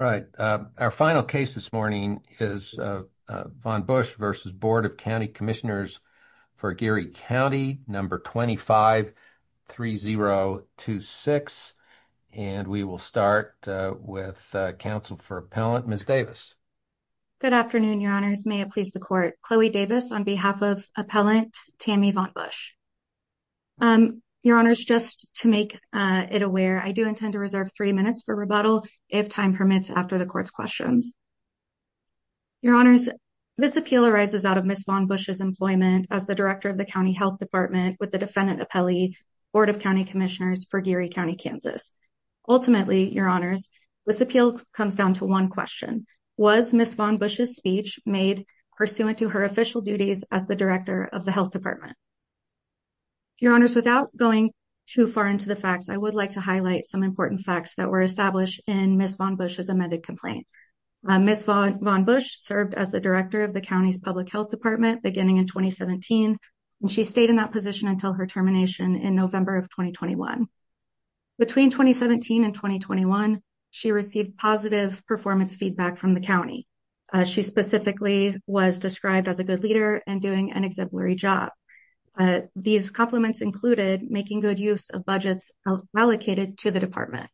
Right. Our final case this morning is Von Busch v. Board of County Commissioners for Geary County, number 253026. And we will start with counsel for appellant, Ms. Davis. Good afternoon, your honors. May it please the court. Chloe Davis on behalf of appellant Tammy Von Busch. Your honors, just to make it aware, I do intend to reserve 3 minutes for rebuttal if time permits after the court's questions. Your honors, this appeal arises out of Ms. Von Busch's employment as the director of the county health department with the defendant appellee, Board of County Commissioners for Geary County, Kansas. Ultimately, your honors, this appeal comes down to 1 question. Was Ms. Von Busch's speech made pursuant to her official duties as the director of the health department? Your honors, without going too far into the facts, I would like to highlight some important facts that were established in Ms. Von Busch's amended complaint. Ms. Von Busch served as the director of the county's public health department beginning in 2017, and she stayed in that position until her termination in November of 2021. Between 2017 and 2021, she received positive performance feedback from the county. She specifically was described as a good leader and doing an exemplary job. These compliments included making good use of budgets allocated to the department.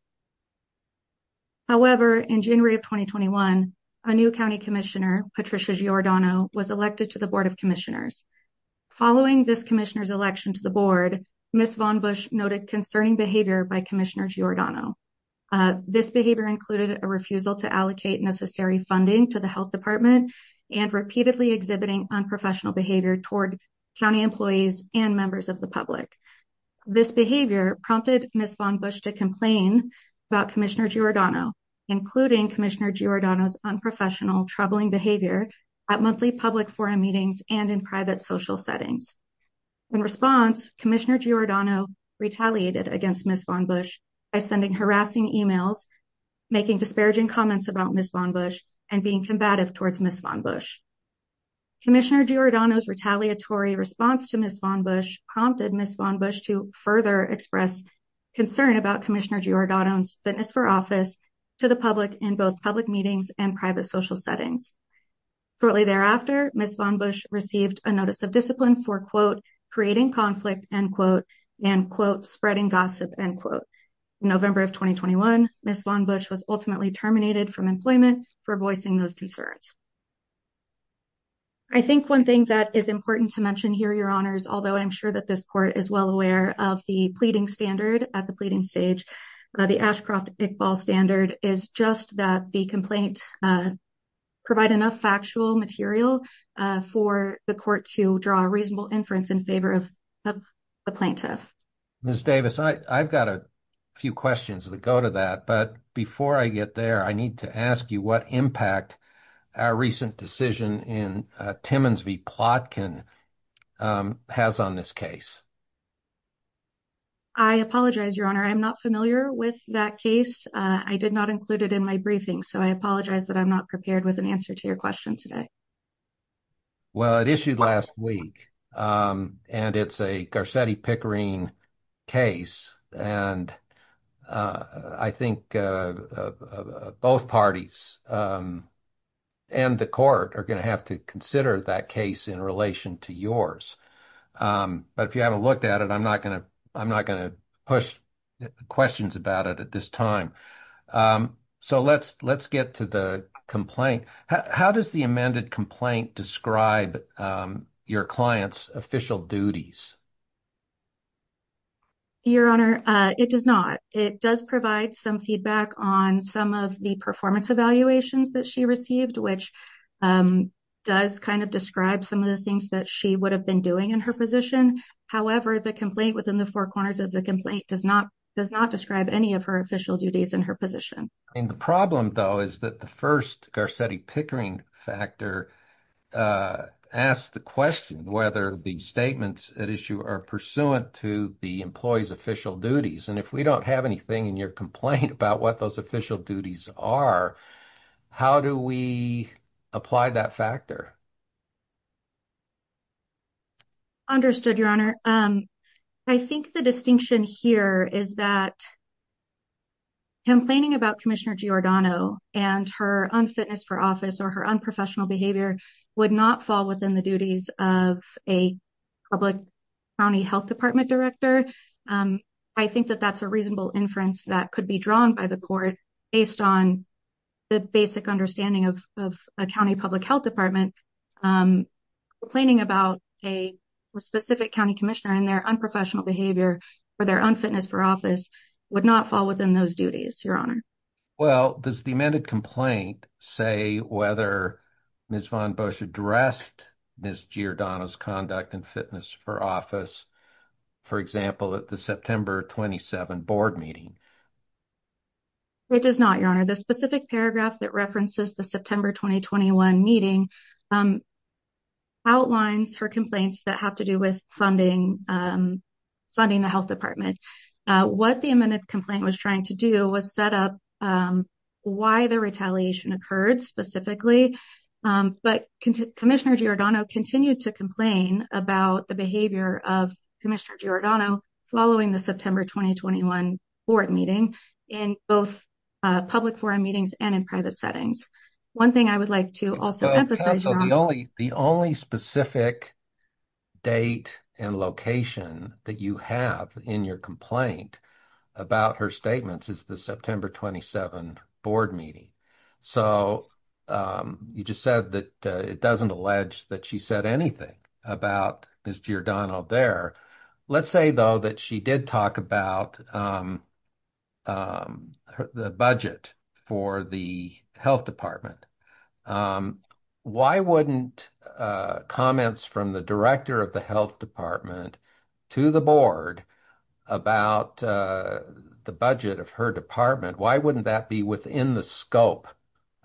However, in January of 2021, a new county commissioner, Patricia Giordano, was elected to the Board of Commissioners. Following this commissioner's election to the board, Ms. Von Busch noted concerning behavior by Commissioner Giordano. This behavior included a refusal to allocate necessary funding to the health department and repeatedly exhibiting unprofessional behavior toward county employees and members of the public. This behavior prompted Ms. Von Busch to complain about Commissioner Giordano, including Commissioner Giordano's unprofessional troubling behavior at monthly public forum meetings and in private social settings. In response, Commissioner Giordano retaliated against Ms. Von Busch by sending harassing emails, making disparaging comments about Ms. Von Busch, and being combative towards Ms. Von Busch. Commissioner Giordano's retaliatory response to Ms. Von Busch prompted Ms. Von Busch to further express concern about Commissioner Giordano's fitness for office to the public in both public meetings and private social settings. Shortly thereafter, Ms. Von Busch received a notice of discipline for, quote, creating conflict, end quote, and, quote, spreading gossip, end quote. In November of 2021, Ms. Von Busch was ultimately terminated from employment for voicing those concerns. I think one thing that is important to mention here, Your Honors, although I'm sure that this court is well aware of the pleading standard at the pleading stage, the Ashcroft-Iqbal standard is just that the complaint provide enough factual material for the court to draw a reasonable inference in favor of the plaintiff. Ms. Davis, I've got a few questions that go to that, but before I get there, I need to ask you what impact our recent decision in Timmons v. Plotkin has on this case. I apologize, Your Honor. I'm not familiar with that case. I did not include it in my briefing, so I apologize that I'm not prepared with an answer to your question today. Well, it issued last week, and it's a Garcetti-Pickering case, and I think both parties and the court are going to have to consider that case in relation to yours. But if you haven't looked at it, I'm not going to push questions about it at this time. So let's get to the complaint. How does the amended complaint describe your client's official duties? Your Honor, it does not. It does provide some feedback on some of the performance evaluations that she received, which does kind of describe some of the things that she would have been doing in her position. However, the complaint within the four corners of the complaint does not describe any of her official duties in her position. And the problem, though, is that the first Garcetti-Pickering factor asked the question whether the statements at issue are pursuant to the employee's official duties. And if we don't have anything in your complaint about what those official duties are, how do we apply that factor? Understood, Your Honor. I think the distinction here is that complaining about Commissioner Giordano and her unfitness for office or her unprofessional behavior would not fall within the duties of a public county health department director. I think that that's a reasonable inference that could be drawn by the court based on the basic understanding of a county public health department. Complaining about a specific county commissioner and their unprofessional behavior for their unfitness for office would not fall within those duties, Your Honor. Well, does the amended complaint say whether Ms. von Busch addressed Ms. Giordano's conduct and fitness for office, for example, at the September 27 board meeting? It does not, Your Honor. The specific paragraph that references the September 2021 meeting outlines her complaints that have to do with funding the health department. What the amended complaint was trying to do was set up why the retaliation occurred specifically. But Commissioner Giordano continued to complain about the behavior of Commissioner Giordano following the September 2021 board meeting in both public forum meetings and in private settings. One thing I would like to also emphasize, Your Honor. Counsel, the only specific date and location that you have in your complaint about her statements is the September 27 board meeting. So you just said that it doesn't allege that she said anything about Ms. Giordano there. Let's say, though, that she did talk about the budget for the health department. Why wouldn't comments from the director of the health department to the board about the budget of her department? Why wouldn't that be within the scope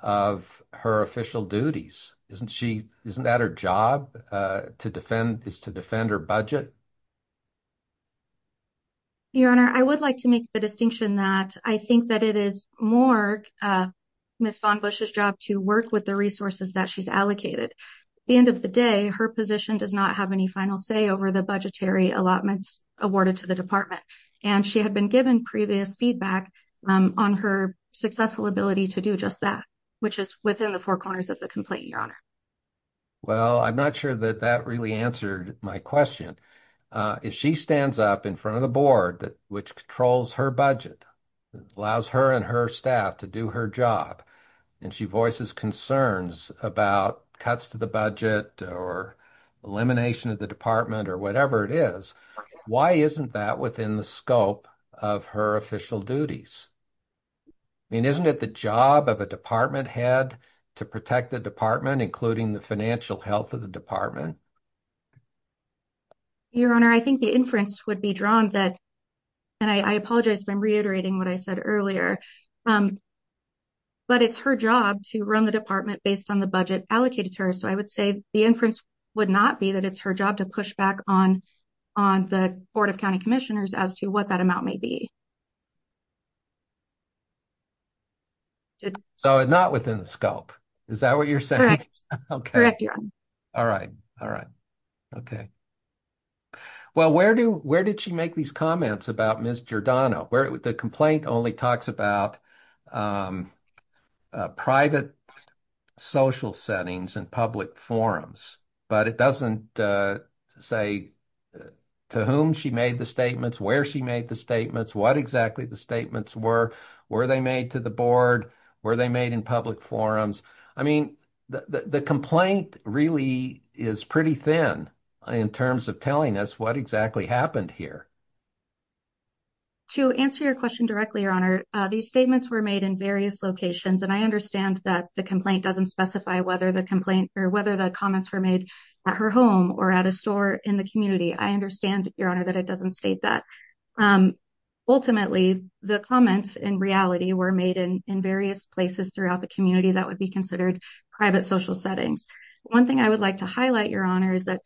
of her official duties? Isn't she isn't that her job to defend is to defend her budget? Your Honor, I would like to make the distinction that I think that it is more Ms. Von Bush's job to work with the resources that she's allocated. The end of the day, her position does not have any final say over the budgetary allotments awarded to the department. And she had been given previous feedback on her successful ability to do just that, which is within the four corners of the complaint. Your Honor. Well, I'm not sure that that really answered my question. If she stands up in front of the board, which controls her budget, allows her and her staff to do her job and she voices concerns about cuts to the budget or elimination of the department or whatever it is. Why isn't that within the scope of her official duties? I mean, isn't it the job of a department head to protect the department, including the financial health of the department? Your Honor, I think the inference would be drawn that and I apologize. I'm reiterating what I said earlier. But it's her job to run the department based on the budget allocated to her. So I would say the inference would not be that it's her job to push back on on the Board of County Commissioners as to what that amount may be. So not within the scope, is that what you're saying? All right. All right. Okay. Well, where do where did she make these comments about Miss Giordano where the complaint only talks about private social settings and public forums? But it doesn't say to whom she made the statements, where she made the statements, what exactly the statements were, where they made to the board, where they made in public forums. I mean, the complaint really is pretty thin in terms of telling us what exactly happened here. To answer your question directly, Your Honor, these statements were made in various locations, and I understand that the complaint doesn't specify whether the complaint or whether the comments were made at her home or at a store in the community. I understand, Your Honor, that it doesn't state that. Ultimately, the comments in reality were made in various places throughout the community that would be considered private social settings. One thing I would like to highlight, Your Honor, is that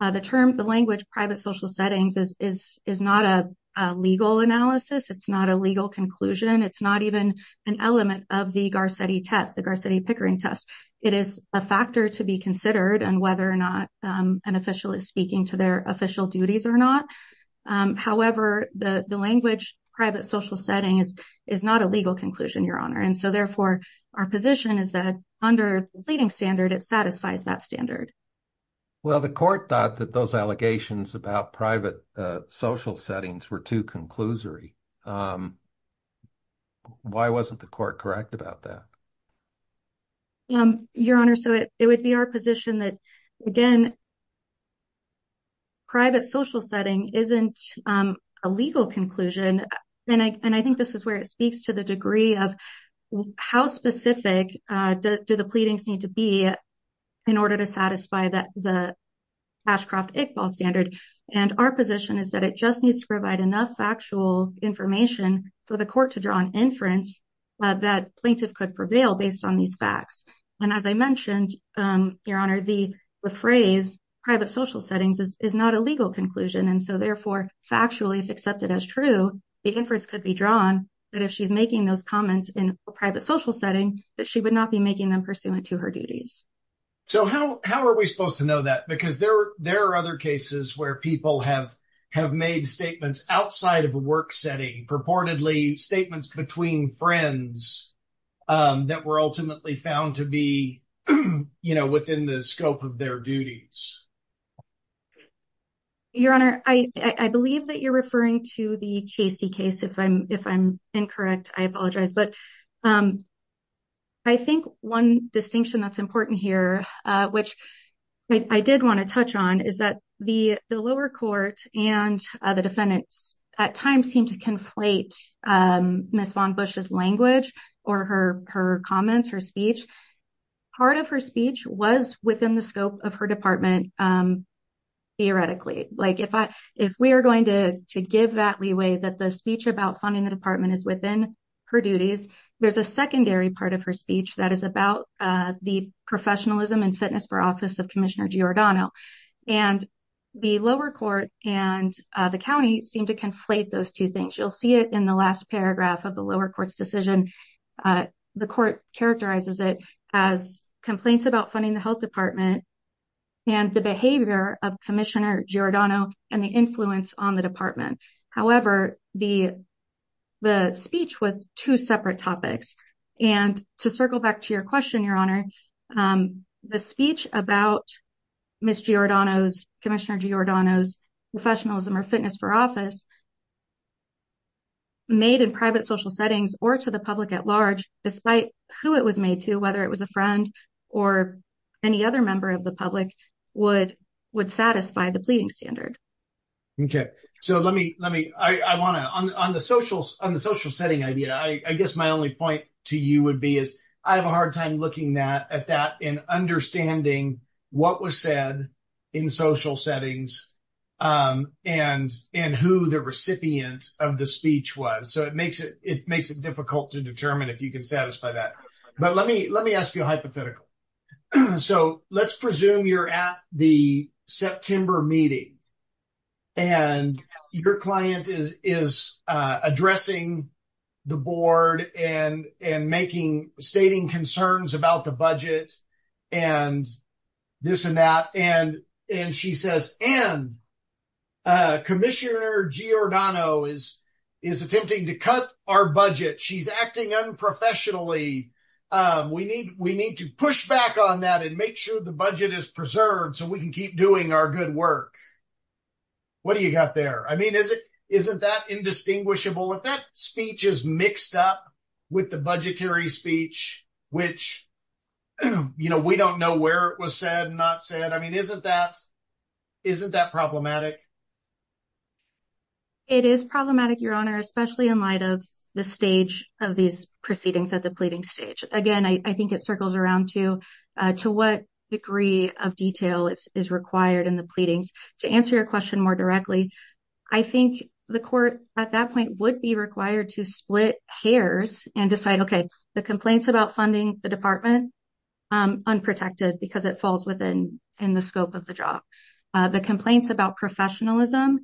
the term the language private social settings is not a legal analysis. It's not a legal conclusion. It's not even an element of the Garcetti test, the Garcetti Pickering test. It is a factor to be considered on whether or not an official is speaking to their official duties or not. However, the language private social settings is not a legal conclusion, Your Honor. And so, therefore, our position is that under the pleading standard, it satisfies that standard. Well, the court thought that those allegations about private social settings were too conclusory. Why wasn't the court correct about that? Your Honor, so it would be our position that, again, private social setting isn't a legal conclusion. And I think this is where it speaks to the degree of how specific do the pleadings need to be in order to satisfy that the Ashcroft-Iqbal standard. And our position is that it just needs to provide enough factual information for the court to draw an inference that plaintiff could prevail based on these facts. And as I mentioned, Your Honor, the phrase private social settings is not a legal conclusion. And so, therefore, factually, if accepted as true, the inference could be drawn that if she's making those comments in a private social setting, that she would not be making them pursuant to her duties. So how are we supposed to know that? Because there are other cases where people have made statements outside of a work setting, purportedly statements between friends that were ultimately found to be, you know, within the scope of their duties. Your Honor, I believe that you're referring to the Casey case. If I'm if I'm incorrect, I apologize. But I think one distinction that's important here, which I did want to touch on, is that the lower court and the defendants at times seem to conflate Ms. Von Bush's language or her her comments, her speech. Part of her speech was within the scope of her department. Theoretically, like if I if we are going to to give that leeway that the speech about funding the department is within her duties. There's a secondary part of her speech that is about the professionalism and fitness for office of Commissioner Giordano and the lower court and the county seem to conflate those two things. You'll see it in the last paragraph of the lower court's decision. The court characterizes it as complaints about funding the health department and the behavior of Commissioner Giordano and the influence on the department. However, the the speech was two separate topics. And to circle back to your question, Your Honor, the speech about Miss Giordano's Commissioner Giordano's professionalism or fitness for office. Made in private social settings or to the public at large, despite who it was made to, whether it was a friend or any other member of the public would would satisfy the pleading standard. OK, so let me let me I want to on the social on the social setting idea, I guess my only point to you would be is I have a hard time looking at that and understanding what was said in social settings and and who the recipient of the speech was. So it makes it it makes it difficult to determine if you can satisfy that. But let me let me ask you a hypothetical. So let's presume you're at the September meeting. And your client is is addressing the board and and making stating concerns about the budget and this and that. And and she says and Commissioner Giordano is is attempting to cut our budget. She's acting unprofessionally. We need we need to push back on that and make sure the budget is preserved so we can keep doing our good work. What do you got there? I mean, is it isn't that indistinguishable? If that speech is mixed up with the budgetary speech, which, you know, we don't know where it was said, not said, I mean, isn't that isn't that problematic? It is problematic, Your Honor, especially in light of the stage of these proceedings at the pleading stage. Again, I think it circles around to to what degree of detail is required in the pleadings. To answer your question more directly, I think the court at that point would be required to split hairs and decide, OK, the complaints about funding the department unprotected because it falls within the scope of the job. The complaints about professionalism.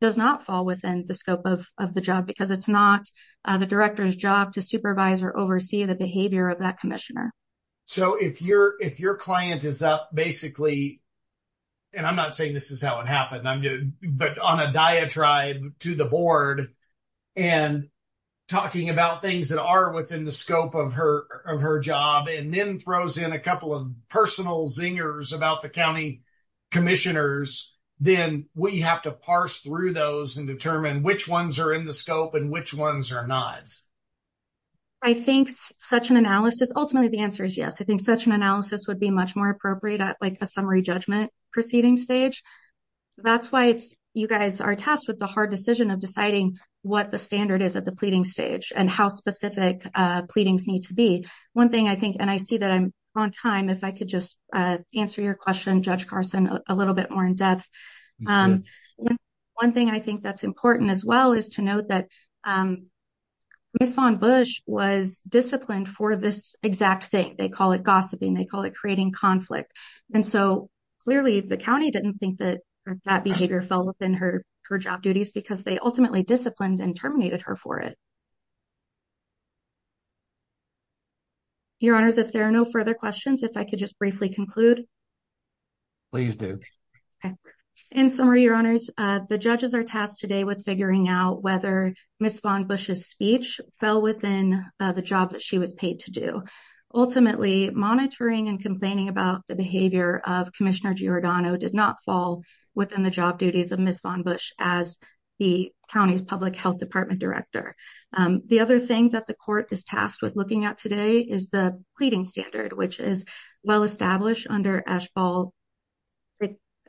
Does not fall within the scope of of the job because it's not the director's job to supervise or oversee the behavior of that commissioner. So, if you're if your client is basically. And I'm not saying this is how it happened, but on a diatribe to the board. And talking about things that are within the scope of her of her job and then throws in a couple of personal zingers about the county commissioners, then we have to parse through those and determine which ones are in the scope and which ones are not. I think such an analysis, ultimately, the answer is yes, I think such an analysis would be much more appropriate at a summary judgment proceeding stage. That's why it's you guys are tasked with the hard decision of deciding what the standard is at the pleading stage and how specific pleadings need to be. One thing I think and I see that I'm on time if I could just answer your question, Judge Carson, a little bit more in depth. One thing I think that's important as well is to note that respond Bush was disciplined for this exact thing they call it gossiping they call it creating conflict. And so, clearly, the county didn't think that that behavior fell within her, her job duties because they ultimately disciplined and terminated her for it. Your honors if there are no further questions if I could just briefly conclude. Please do. In summary, your honors, the judges are tasked today with figuring out whether Miss von Bush's speech fell within the job that she was paid to do. Ultimately, monitoring and complaining about the behavior of Commissioner Giordano did not fall within the job duties of Miss von Bush, as the county's public health department director. The other thing that the court is tasked with looking at today is the pleading standard which is well established under ash ball.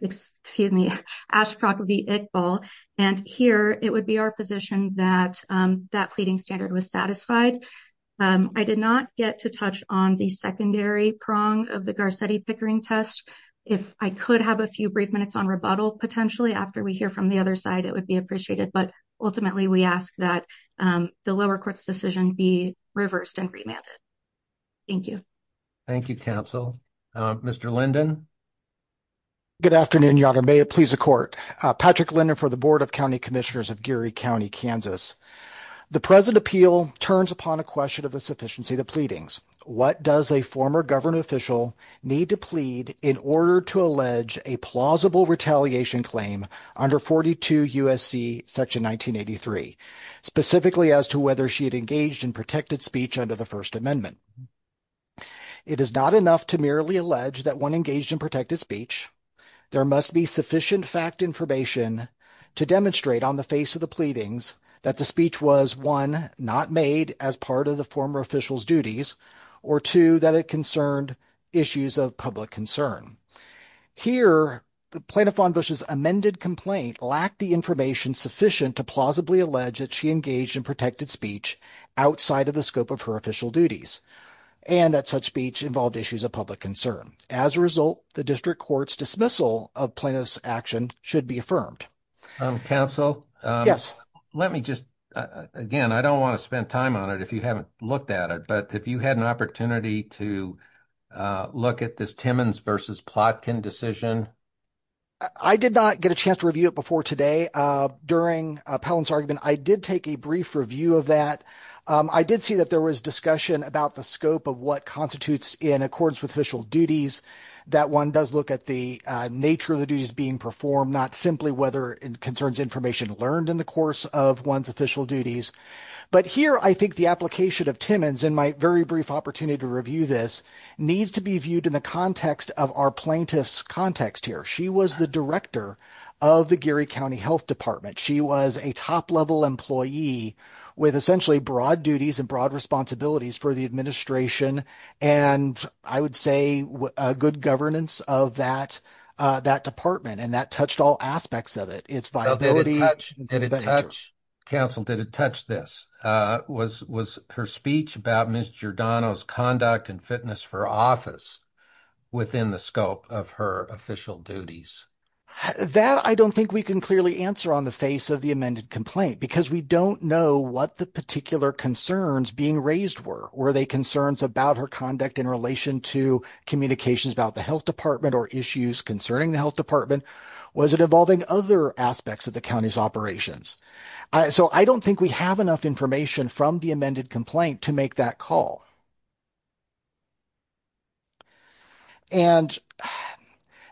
Excuse me, Ashcroft vehicle, and here, it would be our position that that pleading standard was satisfied. I did not get to touch on the secondary prong of the Garcetti Pickering test. If I could have a few brief minutes on rebuttal potentially after we hear from the other side it would be appreciated but ultimately we ask that the lower courts decision be reversed and remanded. Thank you. Thank you counsel. Mr Linden. Good afternoon, your honor may it please the court, Patrick Leonard for the board of county commissioners of Gary County, Kansas. The present appeal turns upon a question of the sufficiency of the pleadings. What does a former government official need to plead in order to allege a plausible retaliation claim under 42 USC section 1983, specifically as to whether she had engaged in protected speech under the first amendment. It is not enough to merely allege that one engaged in protected speech. There must be sufficient fact information to demonstrate on the face of the pleadings that the speech was one not made as part of the former officials duties or two that it concerned issues of public concern. Here the plaintiff on Bush's amended complaint lacked the information sufficient to plausibly allege that she engaged in protected speech outside of the scope of her official duties and that such speech involved issues of public concern. As a result, the district court's dismissal of plaintiff's action should be affirmed. Counsel, yes, let me just again, I don't want to spend time on it if you haven't looked at it, but if you had an opportunity to look at this Timmons versus Plotkin decision. I did not get a chance to review it before today. During Palin's argument, I did take a brief review of that. I did see that there was discussion about the scope of what constitutes in accordance with official duties. That one does look at the nature of the duties being performed, not simply whether it concerns information learned in the course of one's official duties. But here, I think the application of Timmons in my very brief opportunity to review this needs to be viewed in the context of our plaintiff's context here. She was the director of the Gary County Health Department. She was a top level employee with essentially broad duties and broad responsibilities for the administration. And I would say good governance of that department. And that touched all aspects of it. It's viability. Counsel, did it touch this? Was her speech about Ms. Giordano's conduct and fitness for office within the scope of her official duties? That I don't think we can clearly answer on the face of the amended complaint because we don't know what the particular concerns being raised were. Were they concerns about her conduct in relation to communications about the health department or issues concerning the health department? Was it involving other aspects of the county's operations? So I don't think we have enough information from the amended complaint to make that call. And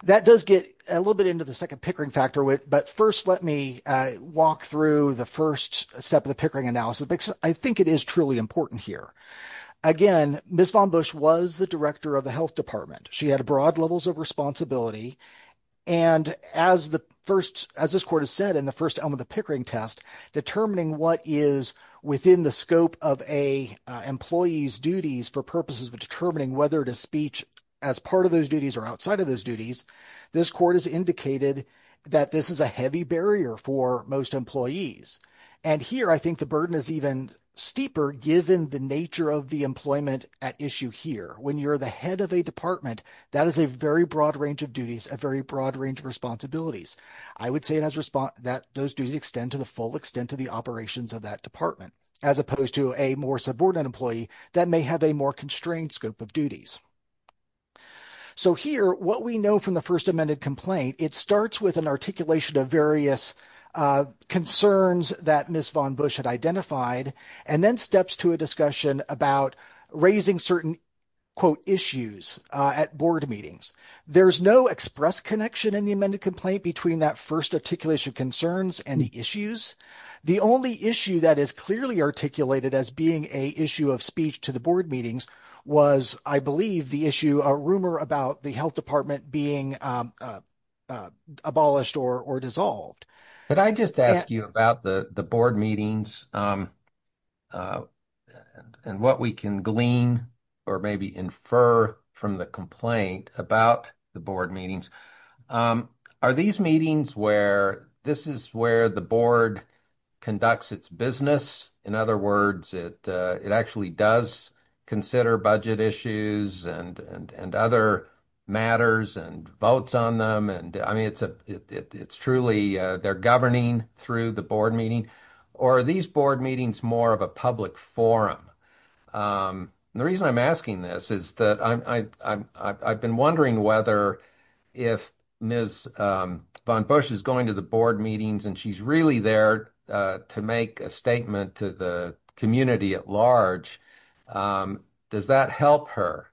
that does get a little bit into the second Pickering factor. But first, let me walk through the first step of the Pickering analysis because I think it is truly important here. Again, Ms. von Busch was the director of the health department. She had broad levels of responsibility. And as this court has said in the first element of the Pickering test, determining what is within the scope of an employee's duties for purposes of determining whether it is speech as part of those duties or outside of those duties. This court has indicated that this is a heavy barrier for most employees. And here I think the burden is even steeper given the nature of the employment at issue here. When you're the head of a department, that is a very broad range of duties, a very broad range of responsibilities. I would say that those duties extend to the full extent of the operations of that department, as opposed to a more subordinate employee that may have a more constrained scope of duties. So here, what we know from the first amended complaint, it starts with an articulation of various concerns that Ms. von Busch had identified and then steps to a discussion about raising certain quote issues at board meetings. There's no express connection in the amended complaint between that first articulation concerns and the issues. The only issue that is clearly articulated as being a issue of speech to the board meetings was, I believe, the issue, a rumor about the health department being abolished or dissolved. Could I just ask you about the board meetings and what we can glean or maybe infer from the complaint about the board meetings? Are these meetings where this is where the board conducts its business? In other words, it actually does consider budget issues and other matters and votes on them. And I mean, it's truly they're governing through the board meeting. Or are these board meetings more of a public forum? The reason I'm asking this is that I've been wondering whether if Ms. von Busch is going to the board meetings and she's really there to make a statement to the community at large. Does that help her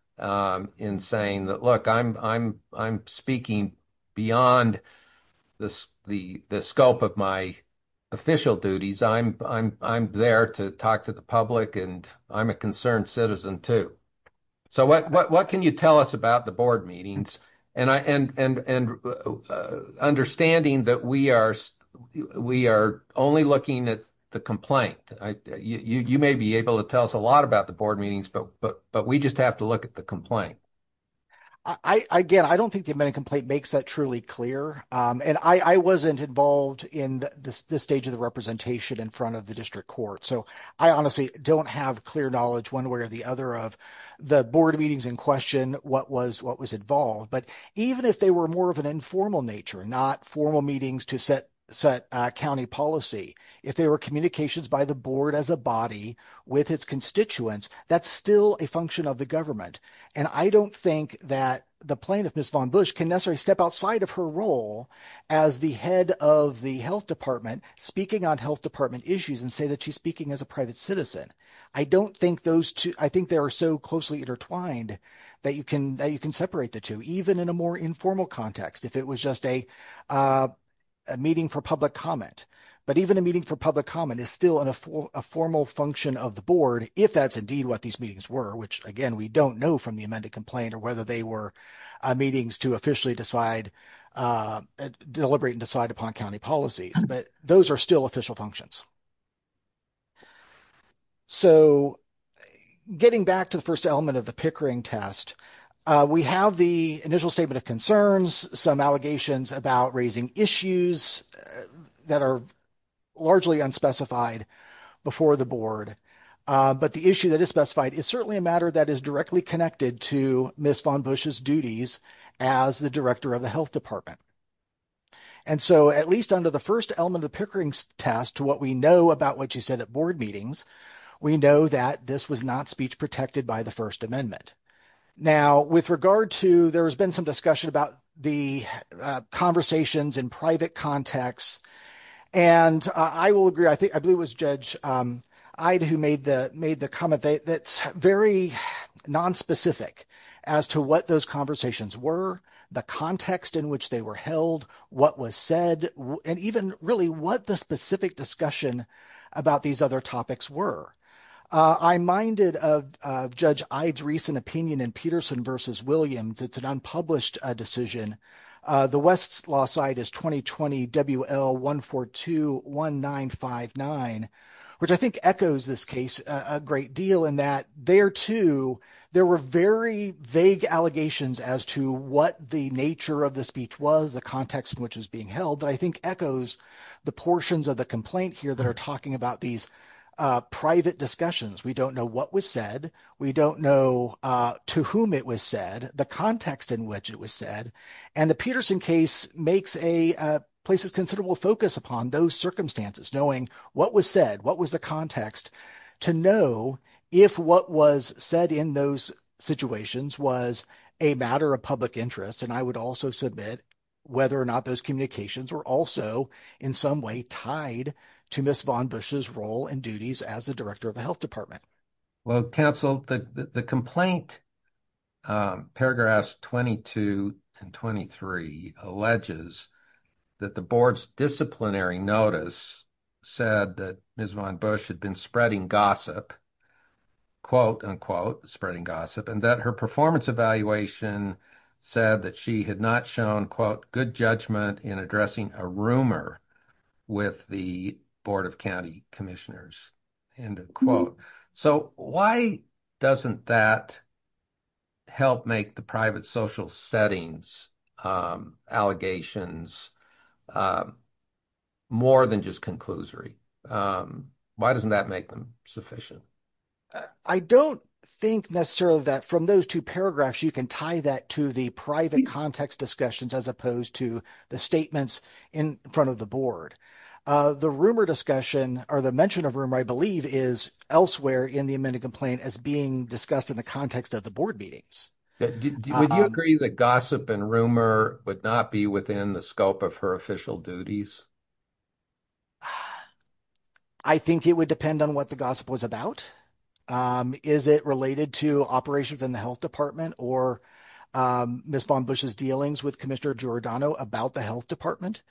in saying that, look, I'm speaking beyond the scope of my official duties. I'm there to talk to the public and I'm a concerned citizen, too. So, what can you tell us about the board meetings and understanding that we are only looking at the complaint? You may be able to tell us a lot about the board meetings, but we just have to look at the complaint. Again, I don't think the amendment complaint makes that truly clear. And I wasn't involved in this stage of the representation in front of the district court. So, I honestly don't have clear knowledge one way or the other of the board meetings in question, what was involved. But even if they were more of an informal nature, not formal meetings to set county policy, if there were communications by the board as a body with its constituents, that's still a function of the government. And I don't think that the plaintiff, Ms. von Busch, can necessarily step outside of her role as the head of the health department, speaking on health department issues and say that she's speaking as a private citizen. I think they are so closely intertwined that you can separate the two, even in a more informal context, if it was just a meeting for public comment. But even a meeting for public comment is still a formal function of the board, if that's indeed what these meetings were, which, again, we don't know from the amended complaint or whether they were meetings to officially deliberate and decide upon county policy. But those are still official functions. So, getting back to the first element of the Pickering test, we have the initial statement of concerns, some allegations about raising issues that are largely unspecified before the board. But the issue that is specified is certainly a matter that is directly connected to Ms. von Busch's duties as the director of the health department. And so, at least under the first element of the Pickering test, to what we know about what you said at board meetings, we know that this was not speech protected by the First Amendment. Now, with regard to, there has been some discussion about the conversations in private context. And I will agree, I think, I believe it was Judge Ide who made the comment that's very nonspecific as to what those conversations were, the context in which they were held, what was said, and even really what the specific discussion about these other topics were. I'm minded of Judge Ide's recent opinion in Peterson v. Williams. It's an unpublished decision. The West's law side is 2020 WL 142-1959, which I think echoes this case a great deal in that there, too, there were very vague allegations as to what the nature of the speech was, the context in which it was being held. I think echoes the portions of the complaint here that are talking about these private discussions. We don't know what was said. We don't know to whom it was said, the context in which it was said. And the Peterson case makes a place of considerable focus upon those circumstances, knowing what was said, what was the context, to know if what was said in those situations was a matter of public interest. And I would also submit whether or not those communications were also in some way tied to Ms. Von Bush's role and duties as the director of the health department. Well, counsel, the complaint, paragraphs 22 and 23, alleges that the board's disciplinary notice said that Ms. Von Bush had been spreading gossip, quote, unquote, spreading gossip, and that her performance evaluation said that she had not shown, quote, good judgment in addressing a rumor with the Board of County Commissioners, end of quote. So why doesn't that help make the private social settings allegations more than just conclusory? Why doesn't that make them sufficient? I don't think necessarily that from those two paragraphs, you can tie that to the private context discussions as opposed to the statements in front of the board. The rumor discussion or the mention of rumor, I believe, is elsewhere in the amended complaint as being discussed in the context of the board meetings. Would you agree that gossip and rumor would not be within the scope of her official duties? I think it would depend on what the gossip was about. Is it related to operations in the health department or Ms. Von Bush's dealings with Commissioner Giordano about the health department?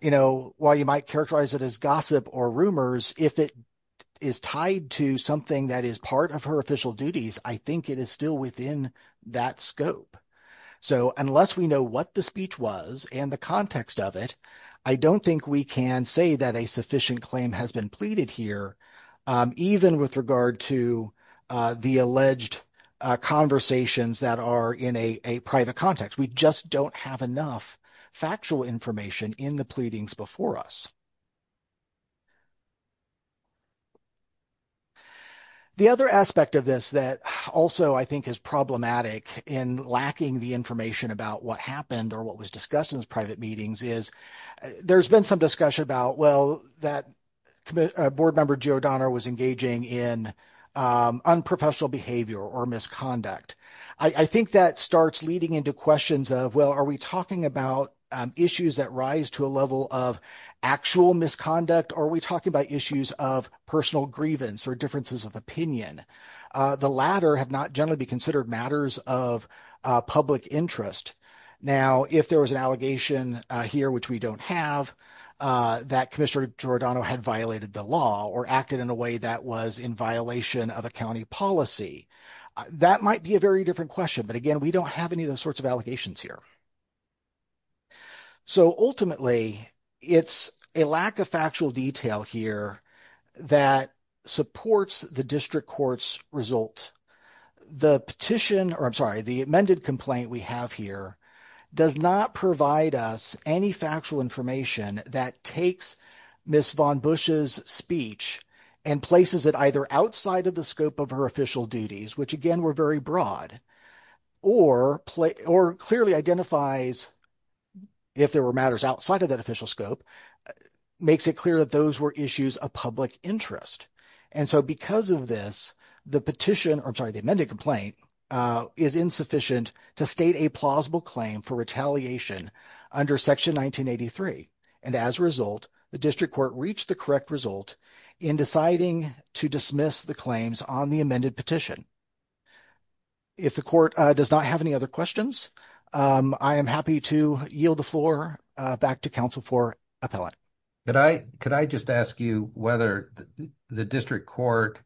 You know, while you might characterize it as gossip or rumors, if it is tied to something that is part of her official duties, I think it is still within that scope. So unless we know what the speech was and the context of it, I don't think we can say that a sufficient claim has been pleaded here, even with regard to the alleged conversations that are in a private context. We just don't have enough factual information in the pleadings before us. The other aspect of this that also I think is problematic in lacking the information about what happened or what was discussed in the private meetings is there's been some discussion about, well, that board member Giordano was engaging in unprofessional behavior or misconduct. I think that starts leading into questions of, well, are we talking about issues that rise to a level of actual misconduct or are we talking about issues of personal grievance or differences of opinion? The latter have not generally be considered matters of public interest. Now, if there was an allegation here, which we don't have, that Commissioner Giordano had violated the law or acted in a way that was in violation of a county policy, that might be a very different question. But again, we don't have any of those sorts of allegations here. So ultimately, it's a lack of factual detail here that supports the district court's result. The petition, or I'm sorry, the amended complaint we have here does not provide us any factual information that takes Ms. von Busch's speech and places it either outside of the scope of her official duties, which again were very broad, or clearly identifies, if there were matters outside of that official scope, makes it clear that those were issues of public interest. And so because of this, the petition, or I'm sorry, the amended complaint is insufficient to state a plausible claim for retaliation under Section 1983. And as a result, the district court reached the correct result in deciding to dismiss the claims on the amended petition. If the court does not have any other questions, I am happy to yield the floor back to counsel for appellate. Could I just ask you whether the district court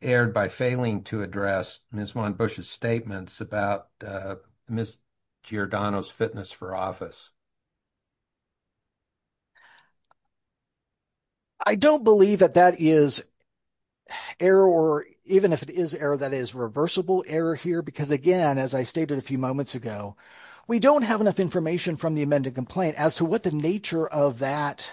erred by failing to address Ms. von Busch's statements about Ms. Giordano's fitness for office? I don't believe that that is error, or even if it is error, that is reversible error here, because again, as I stated a few moments ago, we don't have enough information from the amended complaint as to what the nature of that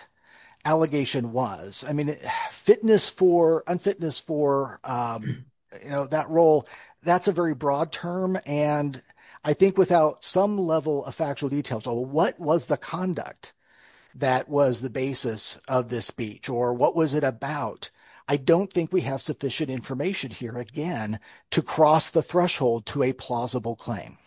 allegation was. I mean, fitness for, unfitness for, you know, that role, that's a very broad term. And I think without some level of factual details, what was the conduct that was the basis of this speech, or what was it about? I don't think we have sufficient information here, again, to cross the threshold to a plausible claim.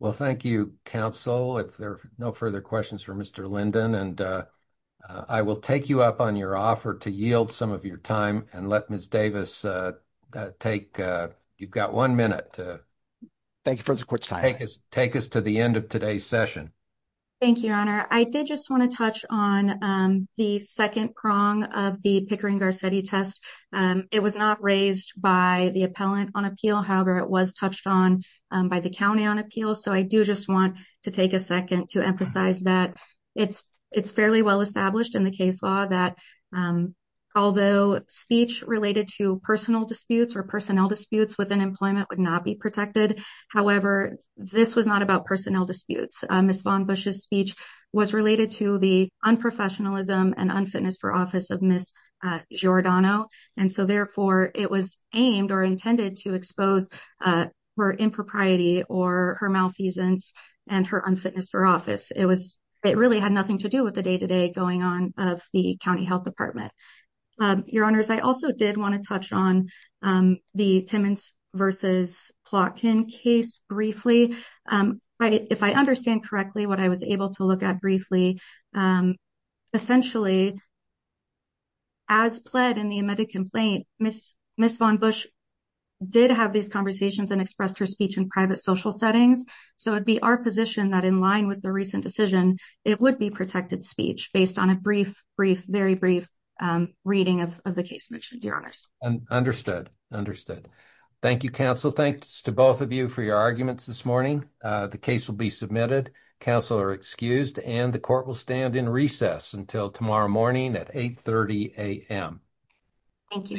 Well, thank you, counsel. If there are no further questions for Mr. Linden, and I will take you up on your offer to yield some of your time and let Ms. Davis take, you've got one minute. Thank you for the court's time. Take us to the end of today's session. Thank you, Your Honor. I did just want to touch on the second prong of the Pickering-Garcetti test. It was not raised by the appellant on appeal. However, it was touched on by the county on appeal. So I do just want to take a second to emphasize that it's fairly well established in the case law that although speech related to personal disputes or personnel disputes within employment would not be protected. However, this was not about personnel disputes. Ms. von Busch's speech was related to the unprofessionalism and unfitness for office of Ms. Giordano. And so, therefore, it was aimed or intended to expose her impropriety or her malfeasance and her unfitness for office. It was it really had nothing to do with the day to day going on of the county health department. Your Honors, I also did want to touch on the Timmons versus Plotkin case briefly. If I understand correctly, what I was able to look at briefly, essentially. As pled in the amended complaint, Ms. von Busch did have these conversations and expressed her speech in private social settings. So it'd be our position that in line with the recent decision, it would be protected speech based on a brief, brief, very brief reading of the case mentioned. Your Honors. Understood. Understood. Thank you, counsel. Thanks to both of you for your arguments this morning. The case will be submitted. Counsel are excused and the court will stand in recess until tomorrow morning at eight thirty a.m. Thank you. Thank you.